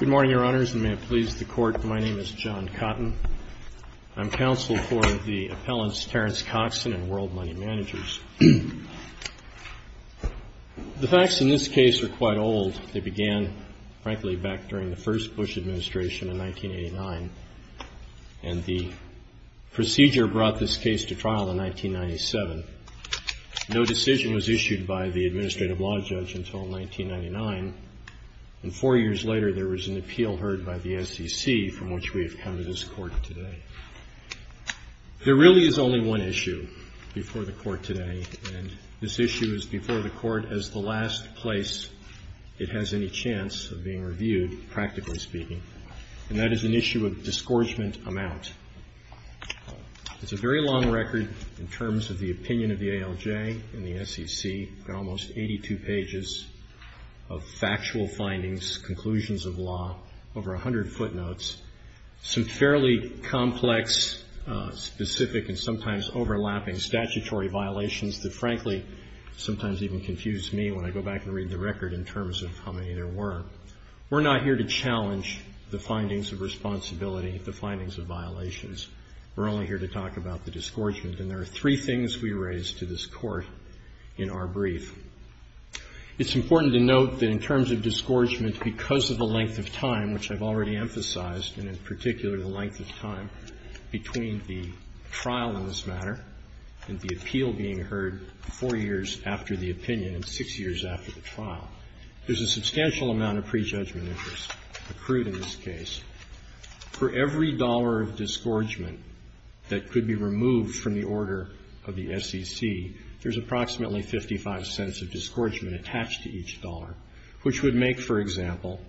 Good morning, Your Honors, and may it please the Court, my name is John Cotton. I'm counsel for the appellants Terrence Coxon and World Money Managers. The facts in this case are quite old. They began, frankly, back during the first Bush administration in 1989, and the procedure brought this case to trial in 1997. No decision was issued by the administrative law judge until 1999, and four years later there was an appeal heard by the SEC from which we have come to this Court today. There really is only one issue before the Court today, and this issue is before the Court as the last place it has any chance of being reviewed, practically speaking, and that is an issue of disgorgement amount. It's a very long record in terms of the opinion of the ALJ and the SEC. We've got almost 82 pages of factual findings, conclusions of law, over 100 footnotes, some fairly complex, specific, and sometimes overlapping statutory violations that, frankly, sometimes even confuse me when I go back and read the record in terms of how many there were. We're not here to challenge the findings of responsibility, the findings of violations. We're only here to talk about the disgorgement, and there are three things we raise to this Court in our brief. It's important to note that in terms of disgorgement, because of the length of time, which I've already emphasized, and in particular the length of time between the trial in this matter and the appeal being heard four years after the opinion and six years after the trial, there's a substantial amount of prejudgment interest accrued in this case. For every dollar of disgorgement that could be removed from the order of the SEC, there's approximately 55 cents of disgorgement attached to each dollar, which would make, for example,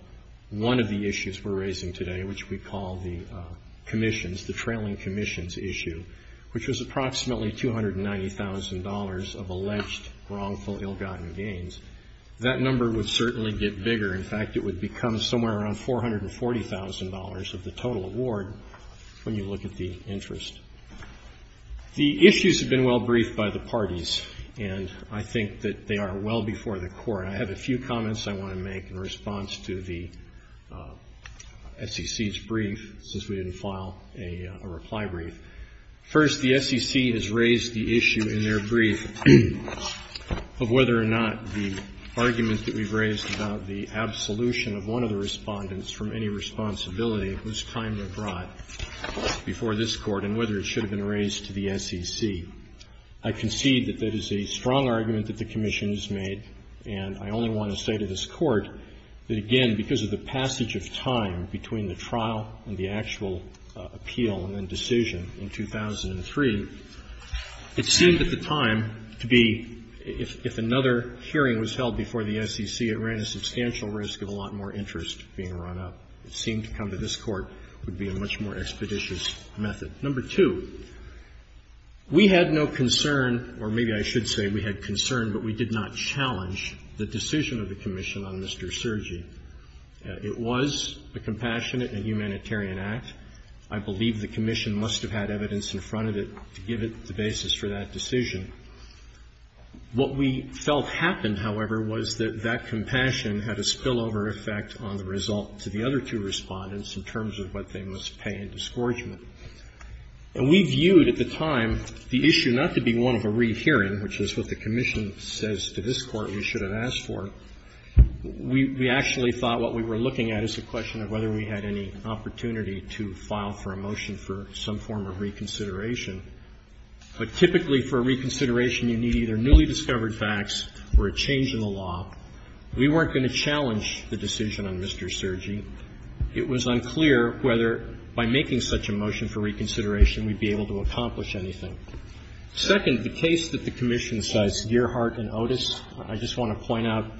one of the issues we're raising today, which we call the commissions, the trailing commissions issue, which was approximately $290,000 of alleged wrongful ill-gotten gains. That number would certainly get bigger. In fact, it would become somewhere around $440,000 of the total award when you look at the interest. The issues have been well briefed by the parties, and I think that they are well before the Court. I have a few comments I want to make in response to the SEC's brief, since we didn't file a reply brief. First, the SEC has raised the issue in their brief of whether or not the argument that we've raised about the absolution of one of the Respondents from any responsibility was timely brought before this Court and whether it should have been raised to the SEC. I concede that that is a strong argument that the commission has made, and I only want to say to this Court that, again, because of the passage of time between the trial and the actual appeal and then decision in 2003, it seemed at the time to be, if another hearing was held before the SEC, it ran a substantial risk of a lot more interest being run up. It seemed to come to this Court, would be a much more expeditious method. Number two, we had no concern, or maybe I should say we had concern, but we did not challenge the decision of the commission on Mr. Sergi. It was a compassionate and humanitarian act. I believe the commission must have had evidence in front of it to give it the basis for that decision. What we felt happened, however, was that that compassion had a spillover effect on the result to the other two Respondents in terms of what they must pay in disgorgement. And we viewed at the time the issue not to be one of a rehearing, which is what the commission says to this Court we should have asked for. We actually thought what we were looking at is a question of whether we had any opportunity to file for a motion for some form of reconsideration. But typically for reconsideration you need either newly discovered facts or a change in the law. We weren't going to challenge the decision on Mr. Sergi. It was unclear whether by making such a motion for reconsideration we'd be able to accomplish anything. Second, the case that the commission cites, Gearhart and Otis, I just want to point out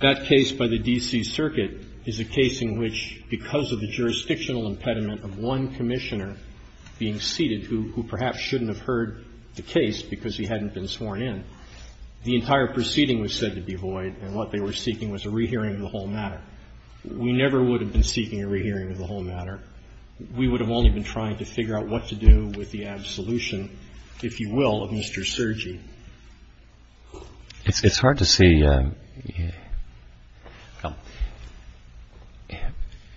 that case by the D.C. Circuit is a case in which, because of the jurisdictional impediment of one Commissioner being seated who perhaps shouldn't have heard the case because he hadn't been sworn in, the entire proceeding was said to be void and what they were seeking was a rehearing of the whole matter. We never would have been seeking a rehearing of the whole matter. We would have only been trying to figure out what to do with the absolution, if you will, of Mr. Sergi. It's hard to see.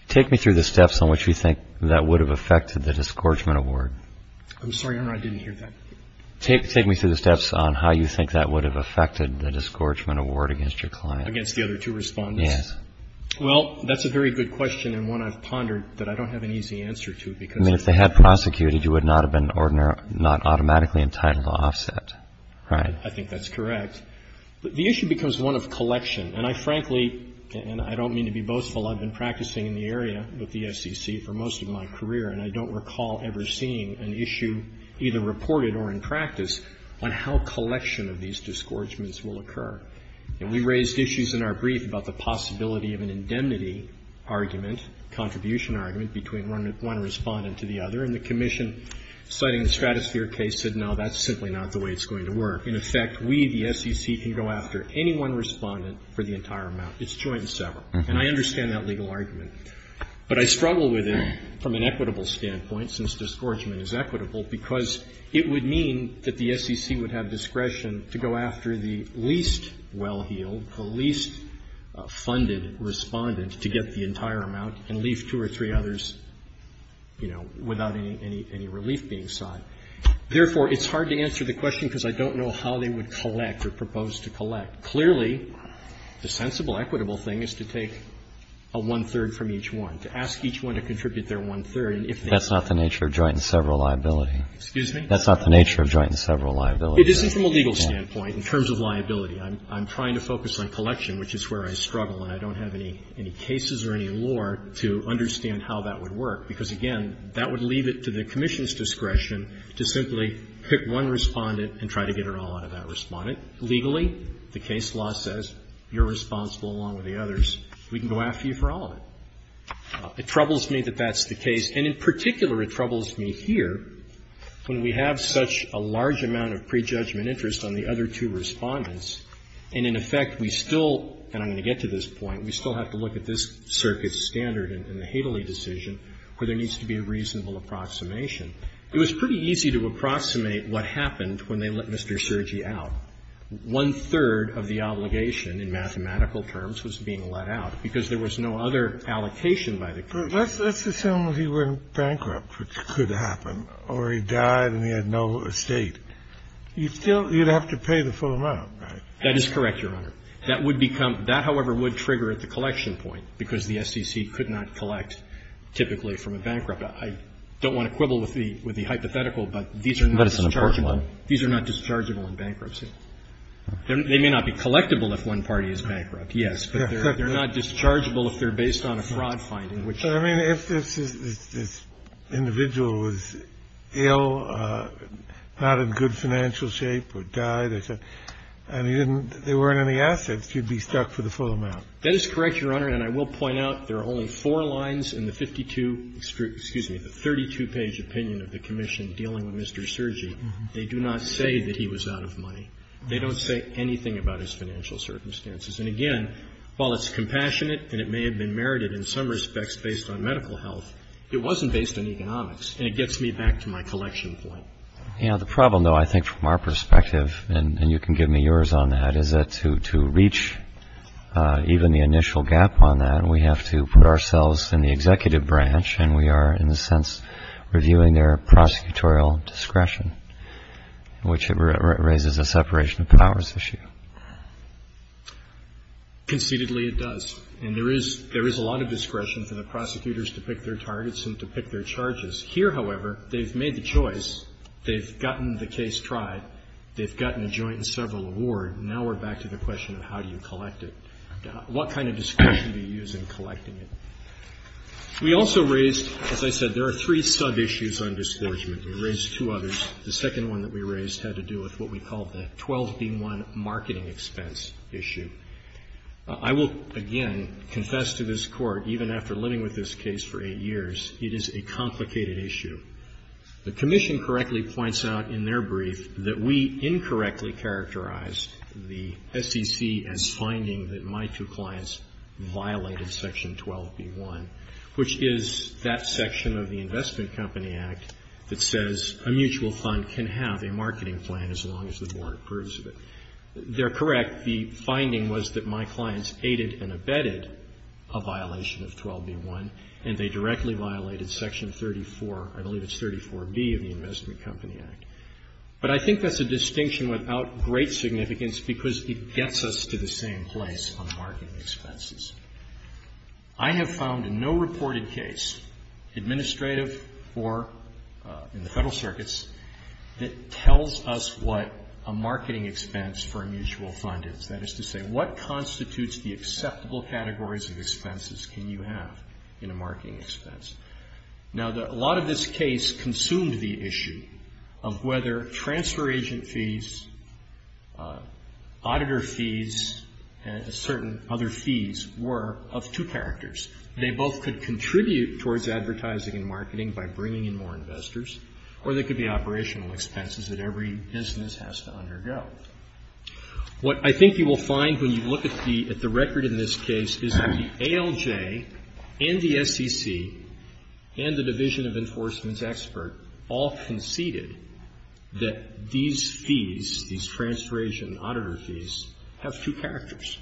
Take me through the steps on which you think that would have affected the discouragement award. I'm sorry, Your Honor, I didn't hear that. Take me through the steps on how you think that would have affected the discouragement award against your client. Against the other two Respondents? Well, that's a very good question and one I've pondered, but I don't have an easy answer to it because it's hard. I mean, if they had prosecuted, you would not have been automatically entitled to offset. Right? I think that's correct. The issue becomes one of collection. And I frankly, and I don't mean to be boastful, I've been practicing in the area with the SEC for most of my career, and I don't recall ever seeing an issue either reported or in practice on how collection of these discouragements will occur. And we raised issues in our brief about the possibility of an indemnity argument, contribution argument, between one Respondent to the other, and the commission citing the Stratosphere case said, no, that's simply not the way it's going to work. In effect, we, the SEC, can go after any one Respondent for the entire amount. It's joint and several. And I understand that legal argument. But I struggle with it from an equitable standpoint, since discouragement is equitable, because it would mean that the SEC would have discretion to go after the least well-heeled, the least funded Respondent to get the entire amount and leave two or three others, you know, without any relief being sought. Therefore, it's hard to answer the question, because I don't know how they would collect or propose to collect. Clearly, the sensible, equitable thing is to take a one-third from each one, to ask each one to contribute their one-third. And if they don't. That's not the nature of joint and several liability. Excuse me? That's not the nature of joint and several liability. It isn't from a legal standpoint, in terms of liability. I'm trying to focus on collection, which is where I struggle. And I don't have any cases or any law to understand how that would work. Because, again, that would leave it to the Commission's discretion to simply pick one Respondent and try to get it all out of that Respondent. Legally, the case law says you're responsible, along with the others. We can go after you for all of it. It troubles me that that's the case. And in particular, it troubles me here when we have such a large amount of prejudgment interest on the other two Respondents, and in effect, we still, and I'm going to get to this point, we still have to look at this Circuit's standard in the Hadley decision where there needs to be a reasonable approximation. It was pretty easy to approximate what happened when they let Mr. Cergi out. One-third of the obligation, in mathematical terms, was being let out, because there was no other allocation by the Commission. So let's assume he went bankrupt, which could happen, or he died and he had no estate. You'd still, you'd have to pay the full amount, right? That is correct, Your Honor. That would become, that, however, would trigger at the collection point, because the SEC could not collect, typically, from a bankrupt. I don't want to quibble with the hypothetical, but these are not dischargeable. These are not dischargeable in bankruptcy. They may not be collectible if one party is bankrupt, yes, but they're not dischargeable if they're based on a fraud finding. Kennedy, I mean, if this individual was ill, not in good financial shape or died, and he didn't, there weren't any assets, you'd be stuck for the full amount. That is correct, Your Honor. And I will point out there are only four lines in the 52, excuse me, the 32-page opinion of the Commission dealing with Mr. Cergi. They do not say that he was out of money. They don't say anything about his financial circumstances. And, again, while it's compassionate and it may have been merited in some respects based on medical health, it wasn't based on economics, and it gets me back to my collection point. You know, the problem, though, I think from our perspective, and you can give me yours on that, is that to reach even the initial gap on that, we have to put ourselves in the executive branch, and we are, in a sense, reviewing their prosecutorial discretion, which raises a separation of powers issue. Conceitedly, it does. And there is a lot of discretion for the prosecutors to pick their targets and to pick their charges. Here, however, they've made the choice. They've gotten the case tried. They've gotten a joint and several award. Now we're back to the question of how do you collect it. What kind of discretion do you use in collecting it? We also raised, as I said, there are three sub-issues on disgorgement. We raised two others. The second one that we raised had to do with what we call the 12B1 marketing expense issue. I will, again, confess to this Court, even after living with this case for eight years, it is a complicated issue. The Commission correctly points out in their brief that we incorrectly characterized the SEC as finding that my two clients violated Section 12B1, which is that section of the Investment Company Act that says a mutual fund can have a marketing plan as long as the board approves of it. They're correct. The finding was that my clients aided and abetted a violation of 12B1, and they directly violated Section 34, I believe it's 34B of the Investment Company Act. But I think that's a distinction without great significance because it gets us to the same place on marketing expenses. I have found in no reported case, administrative or in the Federal circuits, that tells us what a marketing expense for a mutual fund is. That is to say, what constitutes the acceptable categories of expenses can you have in a marketing expense? Now, a lot of this case consumed the issue of whether transfer agent fees, auditor fees, and certain other fees were of two characters. They both could contribute towards advertising and marketing by bringing in more investors, or they could be operational expenses that every business has to undergo. What I think you will find when you look at the record in this case is that the ALJ and the SEC and the Division of Enforcement's expert all conceded that these fees, these transfer agent and auditor fees, have two characters.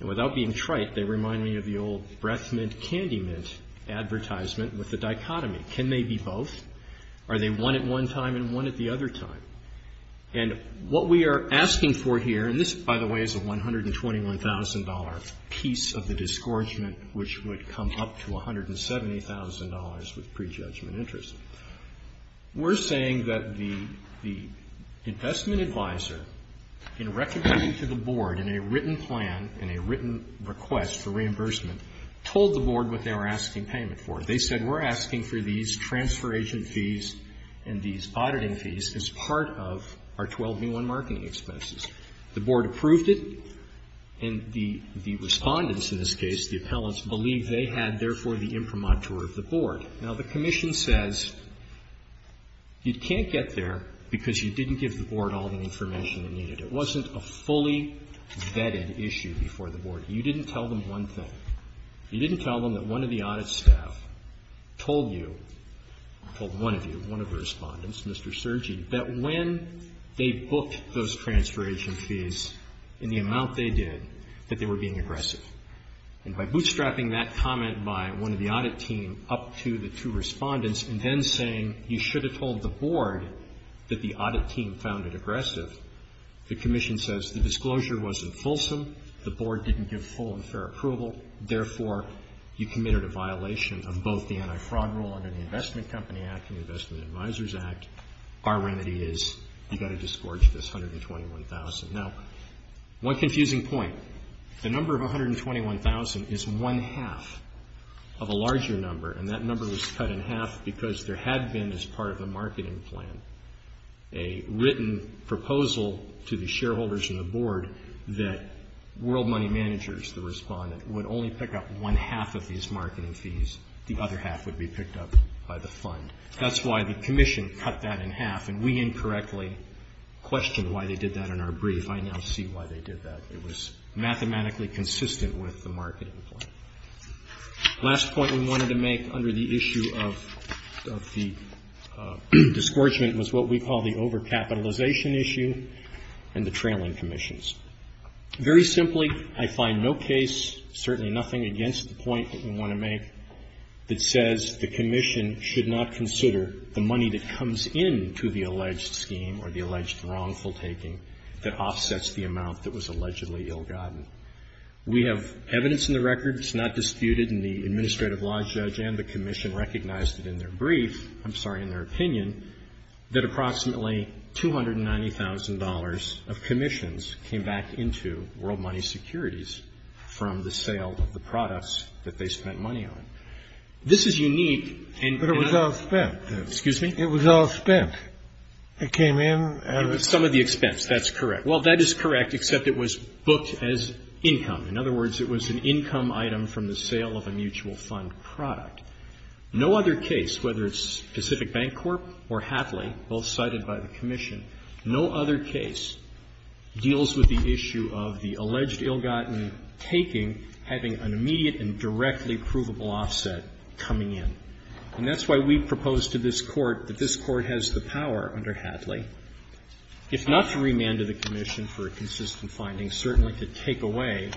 And without being trite, they remind me of the old breath mint candy mint advertisement with the dichotomy. Can they be both? Are they one at one time and one at the other time? And what we are asking for here, and this, by the way, is a $121,000 piece of the disgorgement which would come up to $170,000 with prejudgment interest. We're saying that the investment advisor, in recommending to the board in a written plan, in a written request for reimbursement, told the board what they were asking payment for. They said, we're asking for these transfer agent fees and these auditing fees as part of our 12B1 marketing expenses. The board approved it, and the respondents in this case, the appellants, Now, the commission says you can't get there because you didn't give the board all the information they needed. It wasn't a fully vetted issue before the board. You didn't tell them one thing. You didn't tell them that one of the audit staff told you, told one of you, one of the respondents, Mr. Sergi, that when they booked those transfer agent fees in the amount they did, that they were being aggressive. And by bootstrapping that comment by one of the audit team up to the two respondents and then saying you should have told the board that the audit team found it aggressive, the commission says the disclosure wasn't fulsome. The board didn't give full and fair approval. Therefore, you committed a violation of both the anti-fraud rule under the Investment Company Act and the Investment Advisors Act. Our remedy is you've got to disgorge this $121,000. Now, one confusing point. The number of $121,000 is one-half of a larger number, and that number was cut in half because there had been, as part of the marketing plan, a written proposal to the shareholders and the board that world money managers, the respondent, would only pick up one-half of these marketing fees. The other half would be picked up by the fund. That's why the commission cut that in half, and we incorrectly questioned why they did that in our brief. I now see why they did that. It was mathematically consistent with the marketing plan. The last point we wanted to make under the issue of the disgorgement was what we call the overcapitalization issue and the trailing commissions. Very simply, I find no case, certainly nothing against the point that we want to make, that says the commission should not consider the money that comes into the alleged scheme or the alleged wrongful taking that offsets the amount that was allegedly ill-gotten. We have evidence in the record. It's not disputed, and the administrative law judge and the commission recognized it in their brief, I'm sorry, in their opinion, that approximately $290,000 of commissions came back into World Money Securities from the sale of the products that they spent money on. This is unique. And it was outspent. Excuse me? It was outspent. It came in out of the expense. It was some of the expense. That's correct. Well, that is correct, except it was booked as income. In other words, it was an income item from the sale of a mutual fund product. No other case, whether it's Pacific Bank Corp. or Hatley, both cited by the commission, no other case deals with the issue of the alleged ill-gotten taking having an immediate and directly provable offset coming in. And that's why we propose to this Court that this Court has the power under Hatley, if not to remand to the commission for a consistent finding, certainly to take away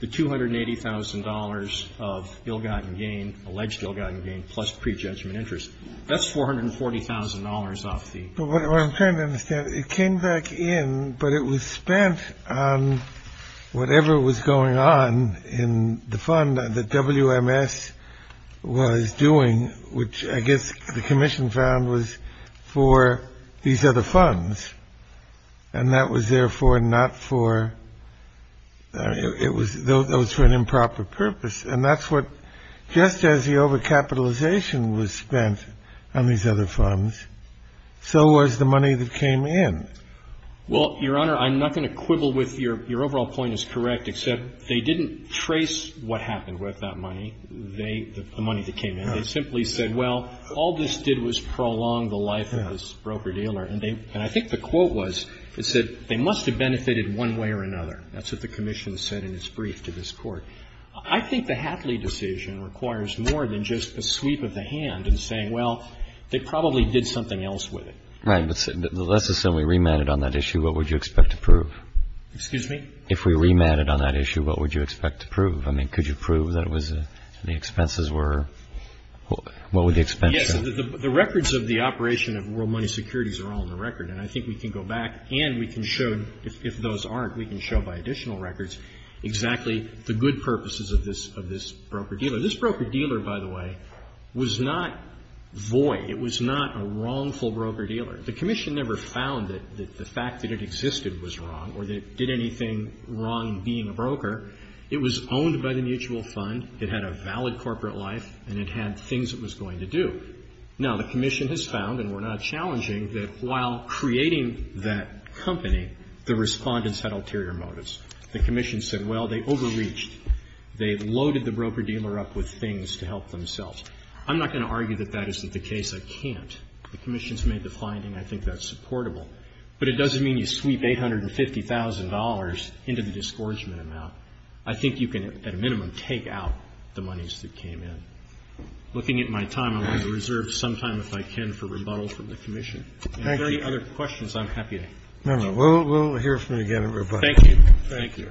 the $280,000 of ill-gotten gain, alleged ill-gotten gain, plus pre-judgment interest. That's $440,000 off the commission. But what I'm trying to understand, it came back in, but it was spent on whatever was going on in the fund that WMS was doing, which I guess the commission found was for these other funds. And that was therefore not for — it was — that was for an improper purpose. And that's what — just as the overcapitalization was spent on these other funds, so was the money that came in. Well, Your Honor, I'm not going to quibble with your — your overall point is correct except they didn't trace what happened with that money. They — the money that came in. They simply said, well, all this did was prolong the life of this broker-dealer. And they — and I think the quote was, it said, they must have benefited one way or another. That's what the commission said in its brief to this Court. I think the Hatley decision requires more than just a sweep of the hand and saying, well, they probably did something else with it. Right. But let's assume we remanded on that issue. What would you expect to prove? Excuse me? If we remanded on that issue, what would you expect to prove? I mean, could you prove that it was — the expenses were — what were the expenses? Yes. The records of the operation of World Money Securities are all in the record. And I think we can go back and we can show, if those aren't, we can show by additional records exactly the good purposes of this — of this broker-dealer. This broker-dealer, by the way, was not void. It was not a wrongful broker-dealer. The commission never found that the fact that it existed was wrong or that it did anything wrong being a broker. It was owned by the mutual fund, it had a valid corporate life, and it had things it was going to do. Now, the commission has found, and we're not challenging, that while creating that company, the Respondents had ulterior motives. The commission said, well, they overreached. They loaded the broker-dealer up with things to help themselves. I'm not going to argue that that isn't the case. I can't. The commission's made the finding. I think that's supportable. But it doesn't mean you sweep $850,000 into the disgorgement amount. I think you can, at a minimum, take out the monies that came in. Looking at my time, I'm going to reserve some time, if I can, for rebuttal from the commission. If there are any other questions, I'm happy to. Scalia. No, no. We'll hear from you again in rebuttal. Roberts. Thank you.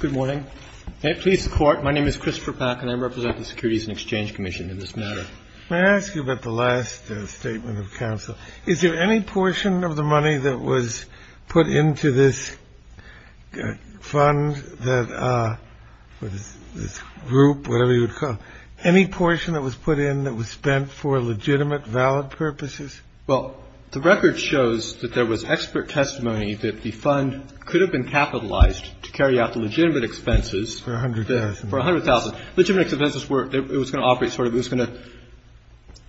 Good morning. May it please the Court, my name is Christopher Pack, and I represent the Securities and Exchange Commission in this matter. May I ask you about the last statement of counsel? Is there any portion of the money that was put into this fund that this group, whatever you would call it, any portion that was put in that was spent for legitimate, valid purposes? Well, the record shows that there was expert testimony that the fund could have been capitalized to carry out the legitimate expenses. For $100,000. For $100,000. Legitimate expenses were, it was going to operate sort of, it was going to,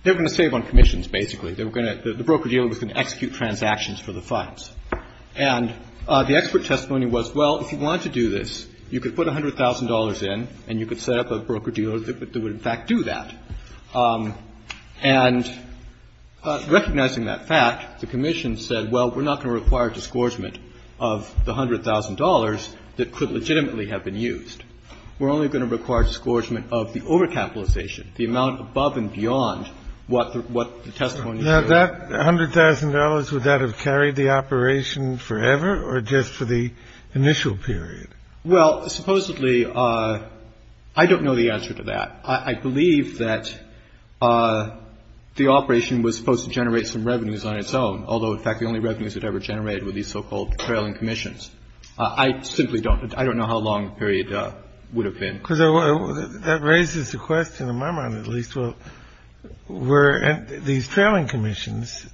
they were going to save on commissions, basically. They were going to, the broker-dealer was going to execute transactions for the funds. And the expert testimony was, well, if you wanted to do this, you could put $100,000 in, and you could set up a broker-dealer that would in fact do that. And recognizing that fact, the commission said, well, we're not going to require disgorgement of the $100,000 that could legitimately have been used. We're only going to require disgorgement of the overcapitalization, the amount above and beyond what the testimony is. Now, that $100,000, would that have carried the operation forever, or just for the initial period? Well, supposedly, I don't know the answer to that. I believe that the operation was supposed to generate some revenues on its own, although in fact the only revenues it ever generated were these so-called trailing commissions. I simply don't, I don't know how long the period would have been. Because that raises the question in my mind, at least. So were these trailing commissions,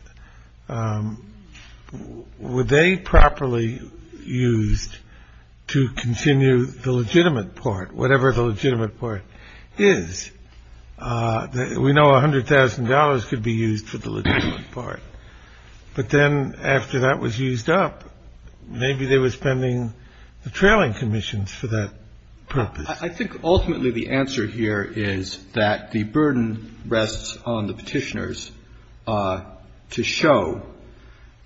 were they properly used to continue the legitimate part, whatever the legitimate part is? We know $100,000 could be used for the legitimate part. But then after that was used up, maybe they were spending the trailing commissions for that purpose. I think ultimately the answer here is that the burden rests on the Petitioners to show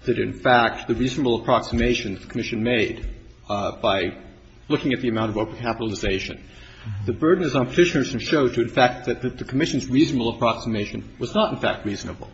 that, in fact, the reasonable approximation the commission made by looking at the amount of overcapitalization, the burden is on Petitioners to show to, in fact, that the commission's reasonable approximation was not, in fact, reasonable,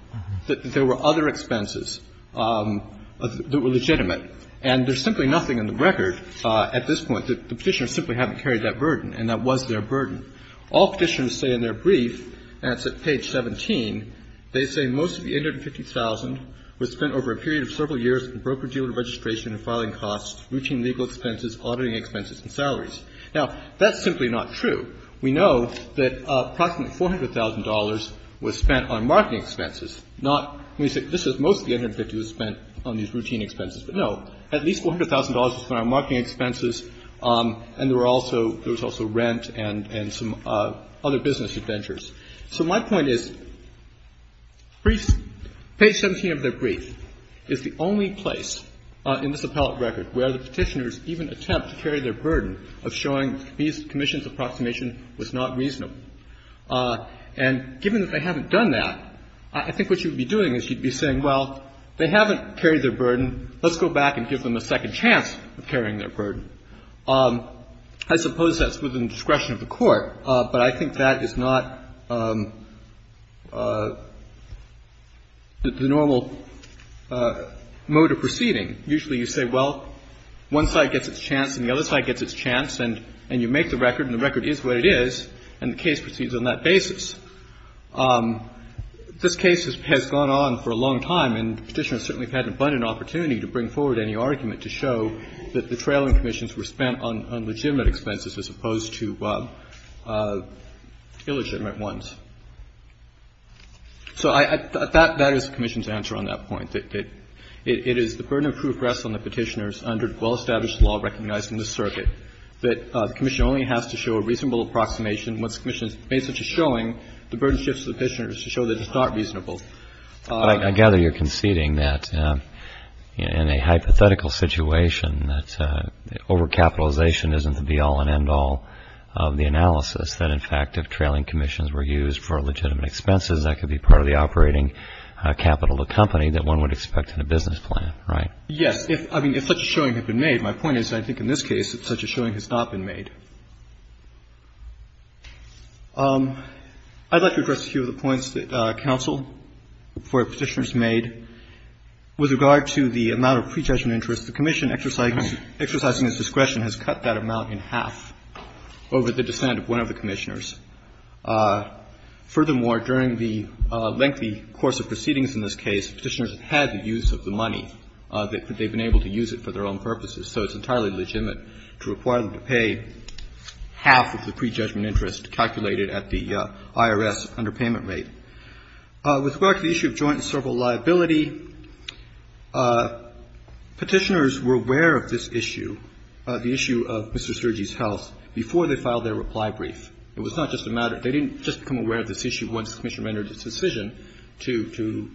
that there were other expenses that were legitimate. And there's simply nothing in the record at this point that the Petitioners simply haven't carried that burden, and that was their burden. All Petitioners say in their brief, and it's at page 17, they say most of the $150,000 was spent over a period of several years in the broker-dealer registration and filing costs, routine legal expenses, auditing expenses, and salaries. Now, that's simply not true. We know that approximately $400,000 was spent on marketing expenses, not when we say that most of the $150,000 was spent on these routine expenses. But, no, at least $400,000 was spent on marketing expenses, and there were also rent and some other business adventures. So my point is page 17 of their brief is the only place in this appellate record where the Petitioners even attempt to carry their burden of showing these commissions' approximation was not reasonable. And given that they haven't done that, I think what you'd be doing is you'd be saying, well, they haven't carried their burden. Let's go back and give them a second chance of carrying their burden. I suppose that's within the discretion of the Court, but I think that is not the normal mode of proceeding. Usually you say, well, one side gets its chance and the other side gets its chance and you make the record, and the record is what it is, and the case proceeds on that basis. This case has gone on for a long time, and Petitioners certainly have had an abundant opportunity to bring forward any argument to show that the trailing commissions were spent on legitimate expenses as opposed to illegitimate ones. So that is the commission's answer on that point. It is the burden of proof rests on the Petitioners under well-established law recognized in this circuit that the commission only has to show a reasonable approximation once the commission has made such a showing, the burden shifts to the Petitioners to show that it's not reasonable. But I gather you're conceding that in a hypothetical situation that overcapitalization isn't the be-all and end-all of the analysis, that in fact if trailing commissions were used for legitimate expenses, that could be part of the operating capital of the company that one would expect in a business plan, right? Yes. I mean, if such a showing had been made. My point is, I think in this case, that such a showing has not been made. I'd like to address a few of the points that counsel for Petitioners made. With regard to the amount of pre-judgment interest, the commission exercising its discretion has cut that amount in half over the descent of one of the Commissioners. Furthermore, during the lengthy course of proceedings in this case, Petitioners have had the use of the money. They've been able to use it for their own purposes. So it's entirely legitimate to require them to pay half of the pre-judgment interest calculated at the IRS underpayment rate. With regard to the issue of joint and serval liability, Petitioners were aware of this issue, the issue of Mr. Sturgey's health, before they filed their reply brief. It was not just a matter of they didn't just become aware of this issue once the commission rendered its decision to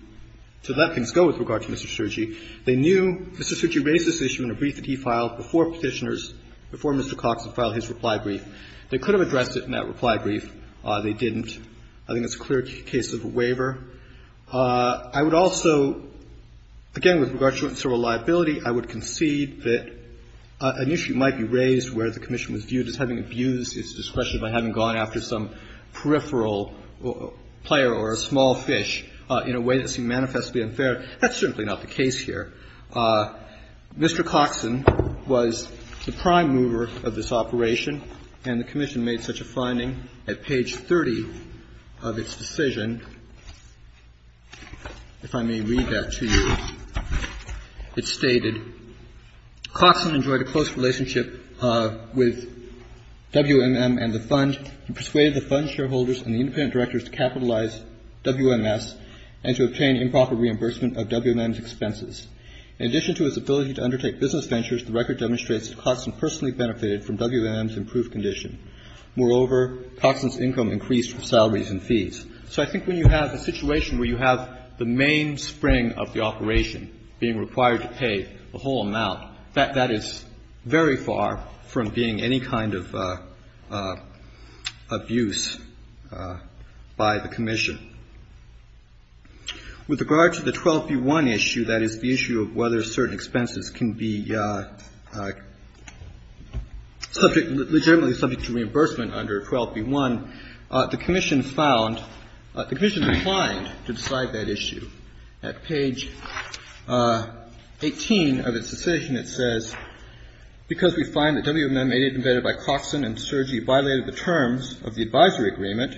let things go with regard to Mr. Sturgey. They knew Mr. Sturgey raised this issue in a brief that he filed before Petitioners before Mr. Cox had filed his reply brief. They could have addressed it in that reply brief. They didn't. I think that's a clear case of a waiver. I would also, again, with regard to joint and serval liability, I would concede that an issue might be raised where the commission was viewed as having abused its discretion by having gone after some peripheral player or a small fish in a way that seemed manifestly unfair. That's certainly not the case here. Mr. Coxon was the prime mover of this operation, and the commission made such a finding at page 30 of its decision. If I may read that to you, it stated, Coxon enjoyed a close relationship with WMM and the fund and persuaded the fund shareholders and the independent directors to capitalize WMS and to obtain improper reimbursement of WMM's expenses. In addition to his ability to undertake business ventures, the record demonstrates that Coxon personally benefited from WMM's improved condition. Moreover, Coxon's income increased with salaries and fees. So I think when you have a situation where you have the main spring of the operation being required to pay a whole amount, that is very far from being any kind of abuse by the Commission. With regard to the 12b-1 issue, that is, the issue of whether certain expenses can be subject, legitimately subject to reimbursement under 12b-1, the Commission found the Commission declined to decide that issue. At page 18 of its decision, it says, because we find that WMM aided and abetted by Coxon and Surgey violated the terms of the advisory agreement,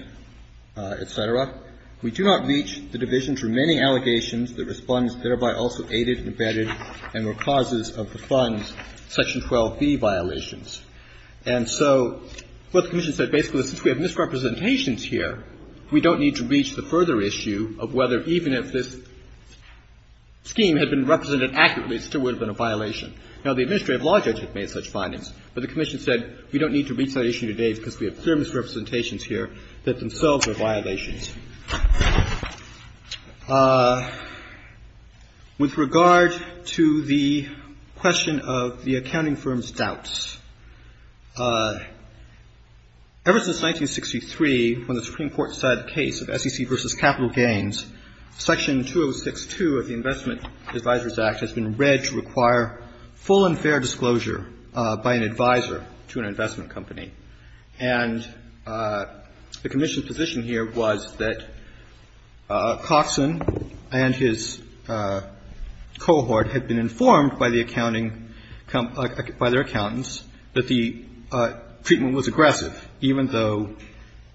et cetera, we do not reach the Division's remaining allegations that Respondents thereby also aided and abetted and were causes of the fund's section 12b violations. And so what the Commission said basically is since we have misrepresentations here, we don't need to reach the further issue of whether even if this scheme had been represented accurately, it still would have been a violation. Now, the administrative law judge had made such findings, but the Commission said we don't need to reach that issue today because we have clear misrepresentations here that themselves are violations. With regard to the question of the accounting firm's doubts, ever since 1963, when the Supreme Court decided the case of SEC v. Capital Gains, Section 206-2 of the Investment Advisors Act has been read to require full and fair disclosure by an advisor to an investment company. And the Commission's position here was that Coxon and his cohort had been informed by the accounting — by their accountants that the treatment was aggressive, even though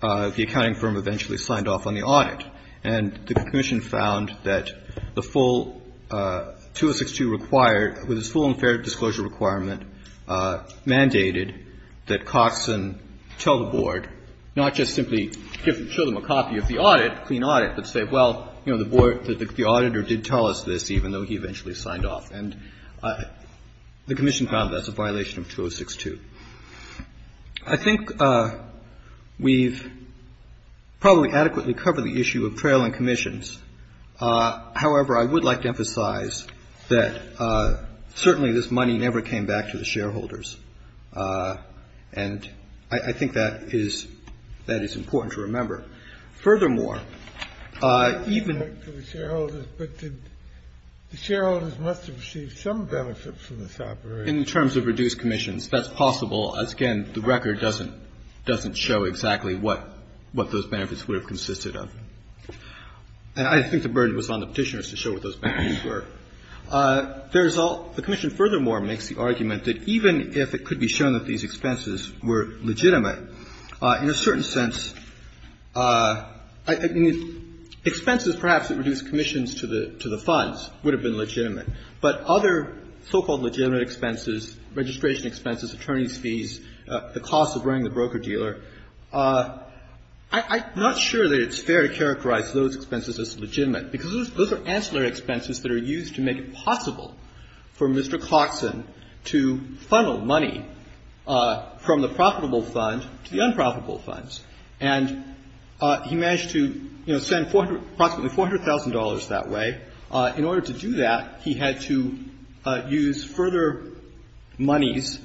the accounting firm eventually signed off on the audit. And the Commission found that the full — 206-2 required, with its full and fair disclosure requirement, mandated that Coxon tell the Board, not just simply show them a copy of the audit, clean audit, but say, well, you know, the Board — the auditor did tell us this, even though he eventually signed off. And the Commission found that's a violation of 206-2. I think we've probably adequately covered the issue of trailing commissions. However, I would like to emphasize that certainly this money never came back to the shareholders. And I think that is — that is important to remember. Furthermore, even — The shareholders must have received some benefits from this operation. In terms of reduced commissions. That's possible, as, again, the record doesn't — doesn't show exactly what — what those benefits would have consisted of. And I think the burden was on the Petitioners to show what those benefits were. There's all — the Commission, furthermore, makes the argument that even if it could be shown that these expenses were legitimate, in a certain sense — I mean, expenses perhaps that reduced commissions to the — to the funds would have been legitimate. But other so-called legitimate expenses, registration expenses, attorney's fees, the cost of running the broker-dealer, I'm not sure that it's fair to characterize those expenses as legitimate, because those are ancillary expenses that are used to make it possible for Mr. Clarkson to funnel money from the profitable fund to the unprofitable funds. And he managed to, you know, send approximately $400,000 that way. In order to do that, he had to use further monies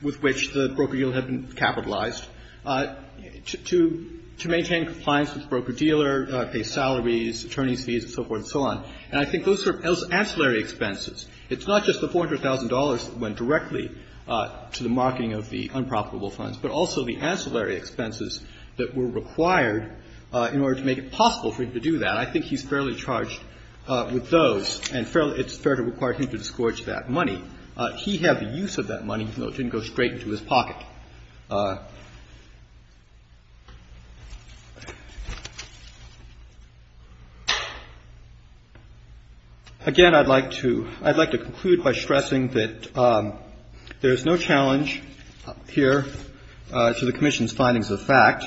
with which the broker-dealer had been capitalized to — to maintain compliance with the broker-dealer, pay salaries, attorney's fees, and so forth and so on. And I think those are ancillary expenses. It's not just the $400,000 that went directly to the marketing of the unprofitable funds, but also the ancillary expenses that were required in order to make it possible for him to do that. I think he's fairly charged with those, and fairly — it's fair to require him to disgorge that money. He had the use of that money, even though it didn't go straight into his pocket. Again, I'd like to — I'd like to conclude by stressing that there is no challenge here to the Commission's findings of the fact.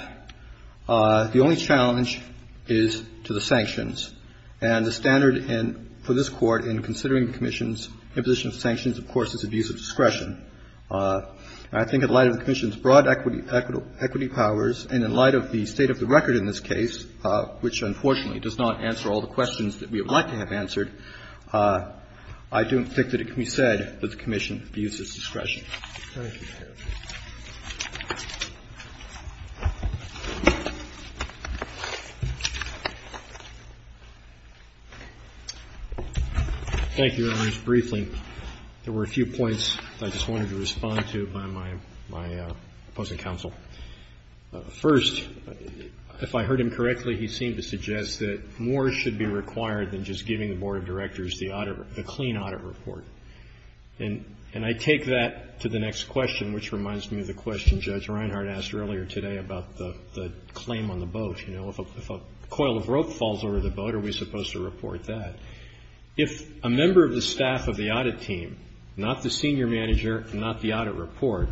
The only challenge is to the sanctions. And the standard in — for this Court in considering the Commission's imposition of sanctions, of course, is abuse of discretion. I think in light of the Commission's broad equity — equity powers, and in light of the state of the record in this case, which unfortunately does not answer all the questions that we would like to have answered, I don't think that it can be said that the Commission abuses discretion. Thank you. Thank you, Your Honors. Briefly, there were a few points that I just wanted to respond to by my opposing counsel. First, if I heard him correctly, he seemed to suggest that more should be required than just giving the Board of Directors the audit — the clean audit report. And I take that to the next question, which reminds me of the question Judge Reinhart asked earlier today about the claim on the boat. You know, if a coil of rope falls over the boat, are we supposed to report that? If a member of the staff of the audit team, not the senior manager, not the audit report,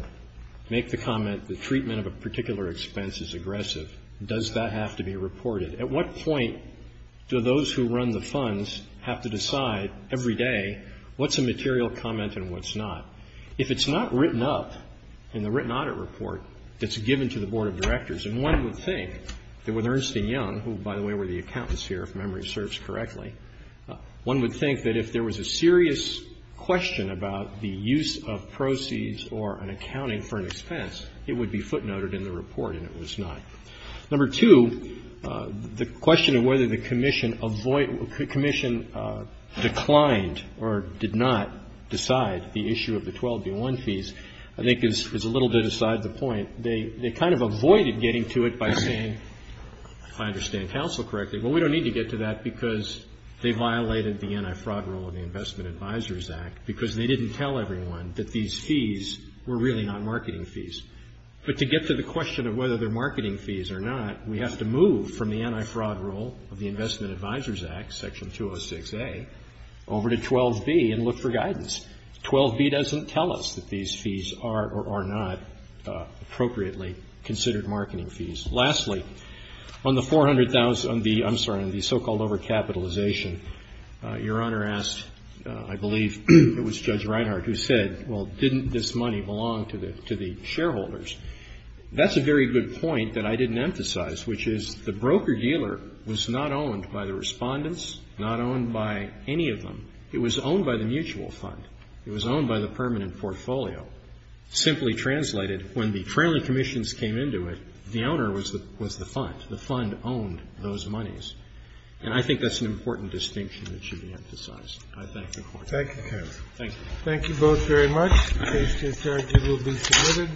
make the comment the treatment of a particular expense is aggressive, does that have to be reported? At what point do those who run the funds have to decide every day what's a material comment and what's not? If it's not written up in the written audit report that's given to the Board of Directors, and one would think that with Ernst & Young, who, by the way, were the accountants here, if memory serves correctly, one would think that if there was a serious question about the use of proceeds or an accounting for an expense, it would be footnoted in the report, and it was not. Number two, the question of whether the commission declined or did not decide the issue of the 12B1 fees, I think is a little bit aside the point. They kind of avoided getting to it by saying, if I understand counsel correctly, well, we don't need to get to that because they violated the anti-fraud rule of the Investment Advisors Act because they didn't tell everyone that these fees were really not marketing fees. But to get to the question of whether they're marketing fees or not, we have to move from the anti-fraud rule of the Investment Advisors Act, Section 206A, over to 12B and look for guidance. 12B doesn't tell us that these fees are or are not appropriately considered marketing fees. Lastly, on the 400,000, I'm sorry, on the so-called overcapitalization, Your Honor asked, I believe it was Judge Reinhart who said, well, didn't this money belong to the shareholders? That's a very good point that I didn't emphasize, which is the broker dealer was not owned by the Respondents, not owned by any of them. It was owned by the mutual fund. It was owned by the permanent portfolio. Simply translated, when the trailing commissions came into it, the owner was the fund. The fund owned those monies. And I think that's an important distinction that should be emphasized. I thank the Court. Thank you, counsel. Thank you both very much. This case, Judge, will be submitted.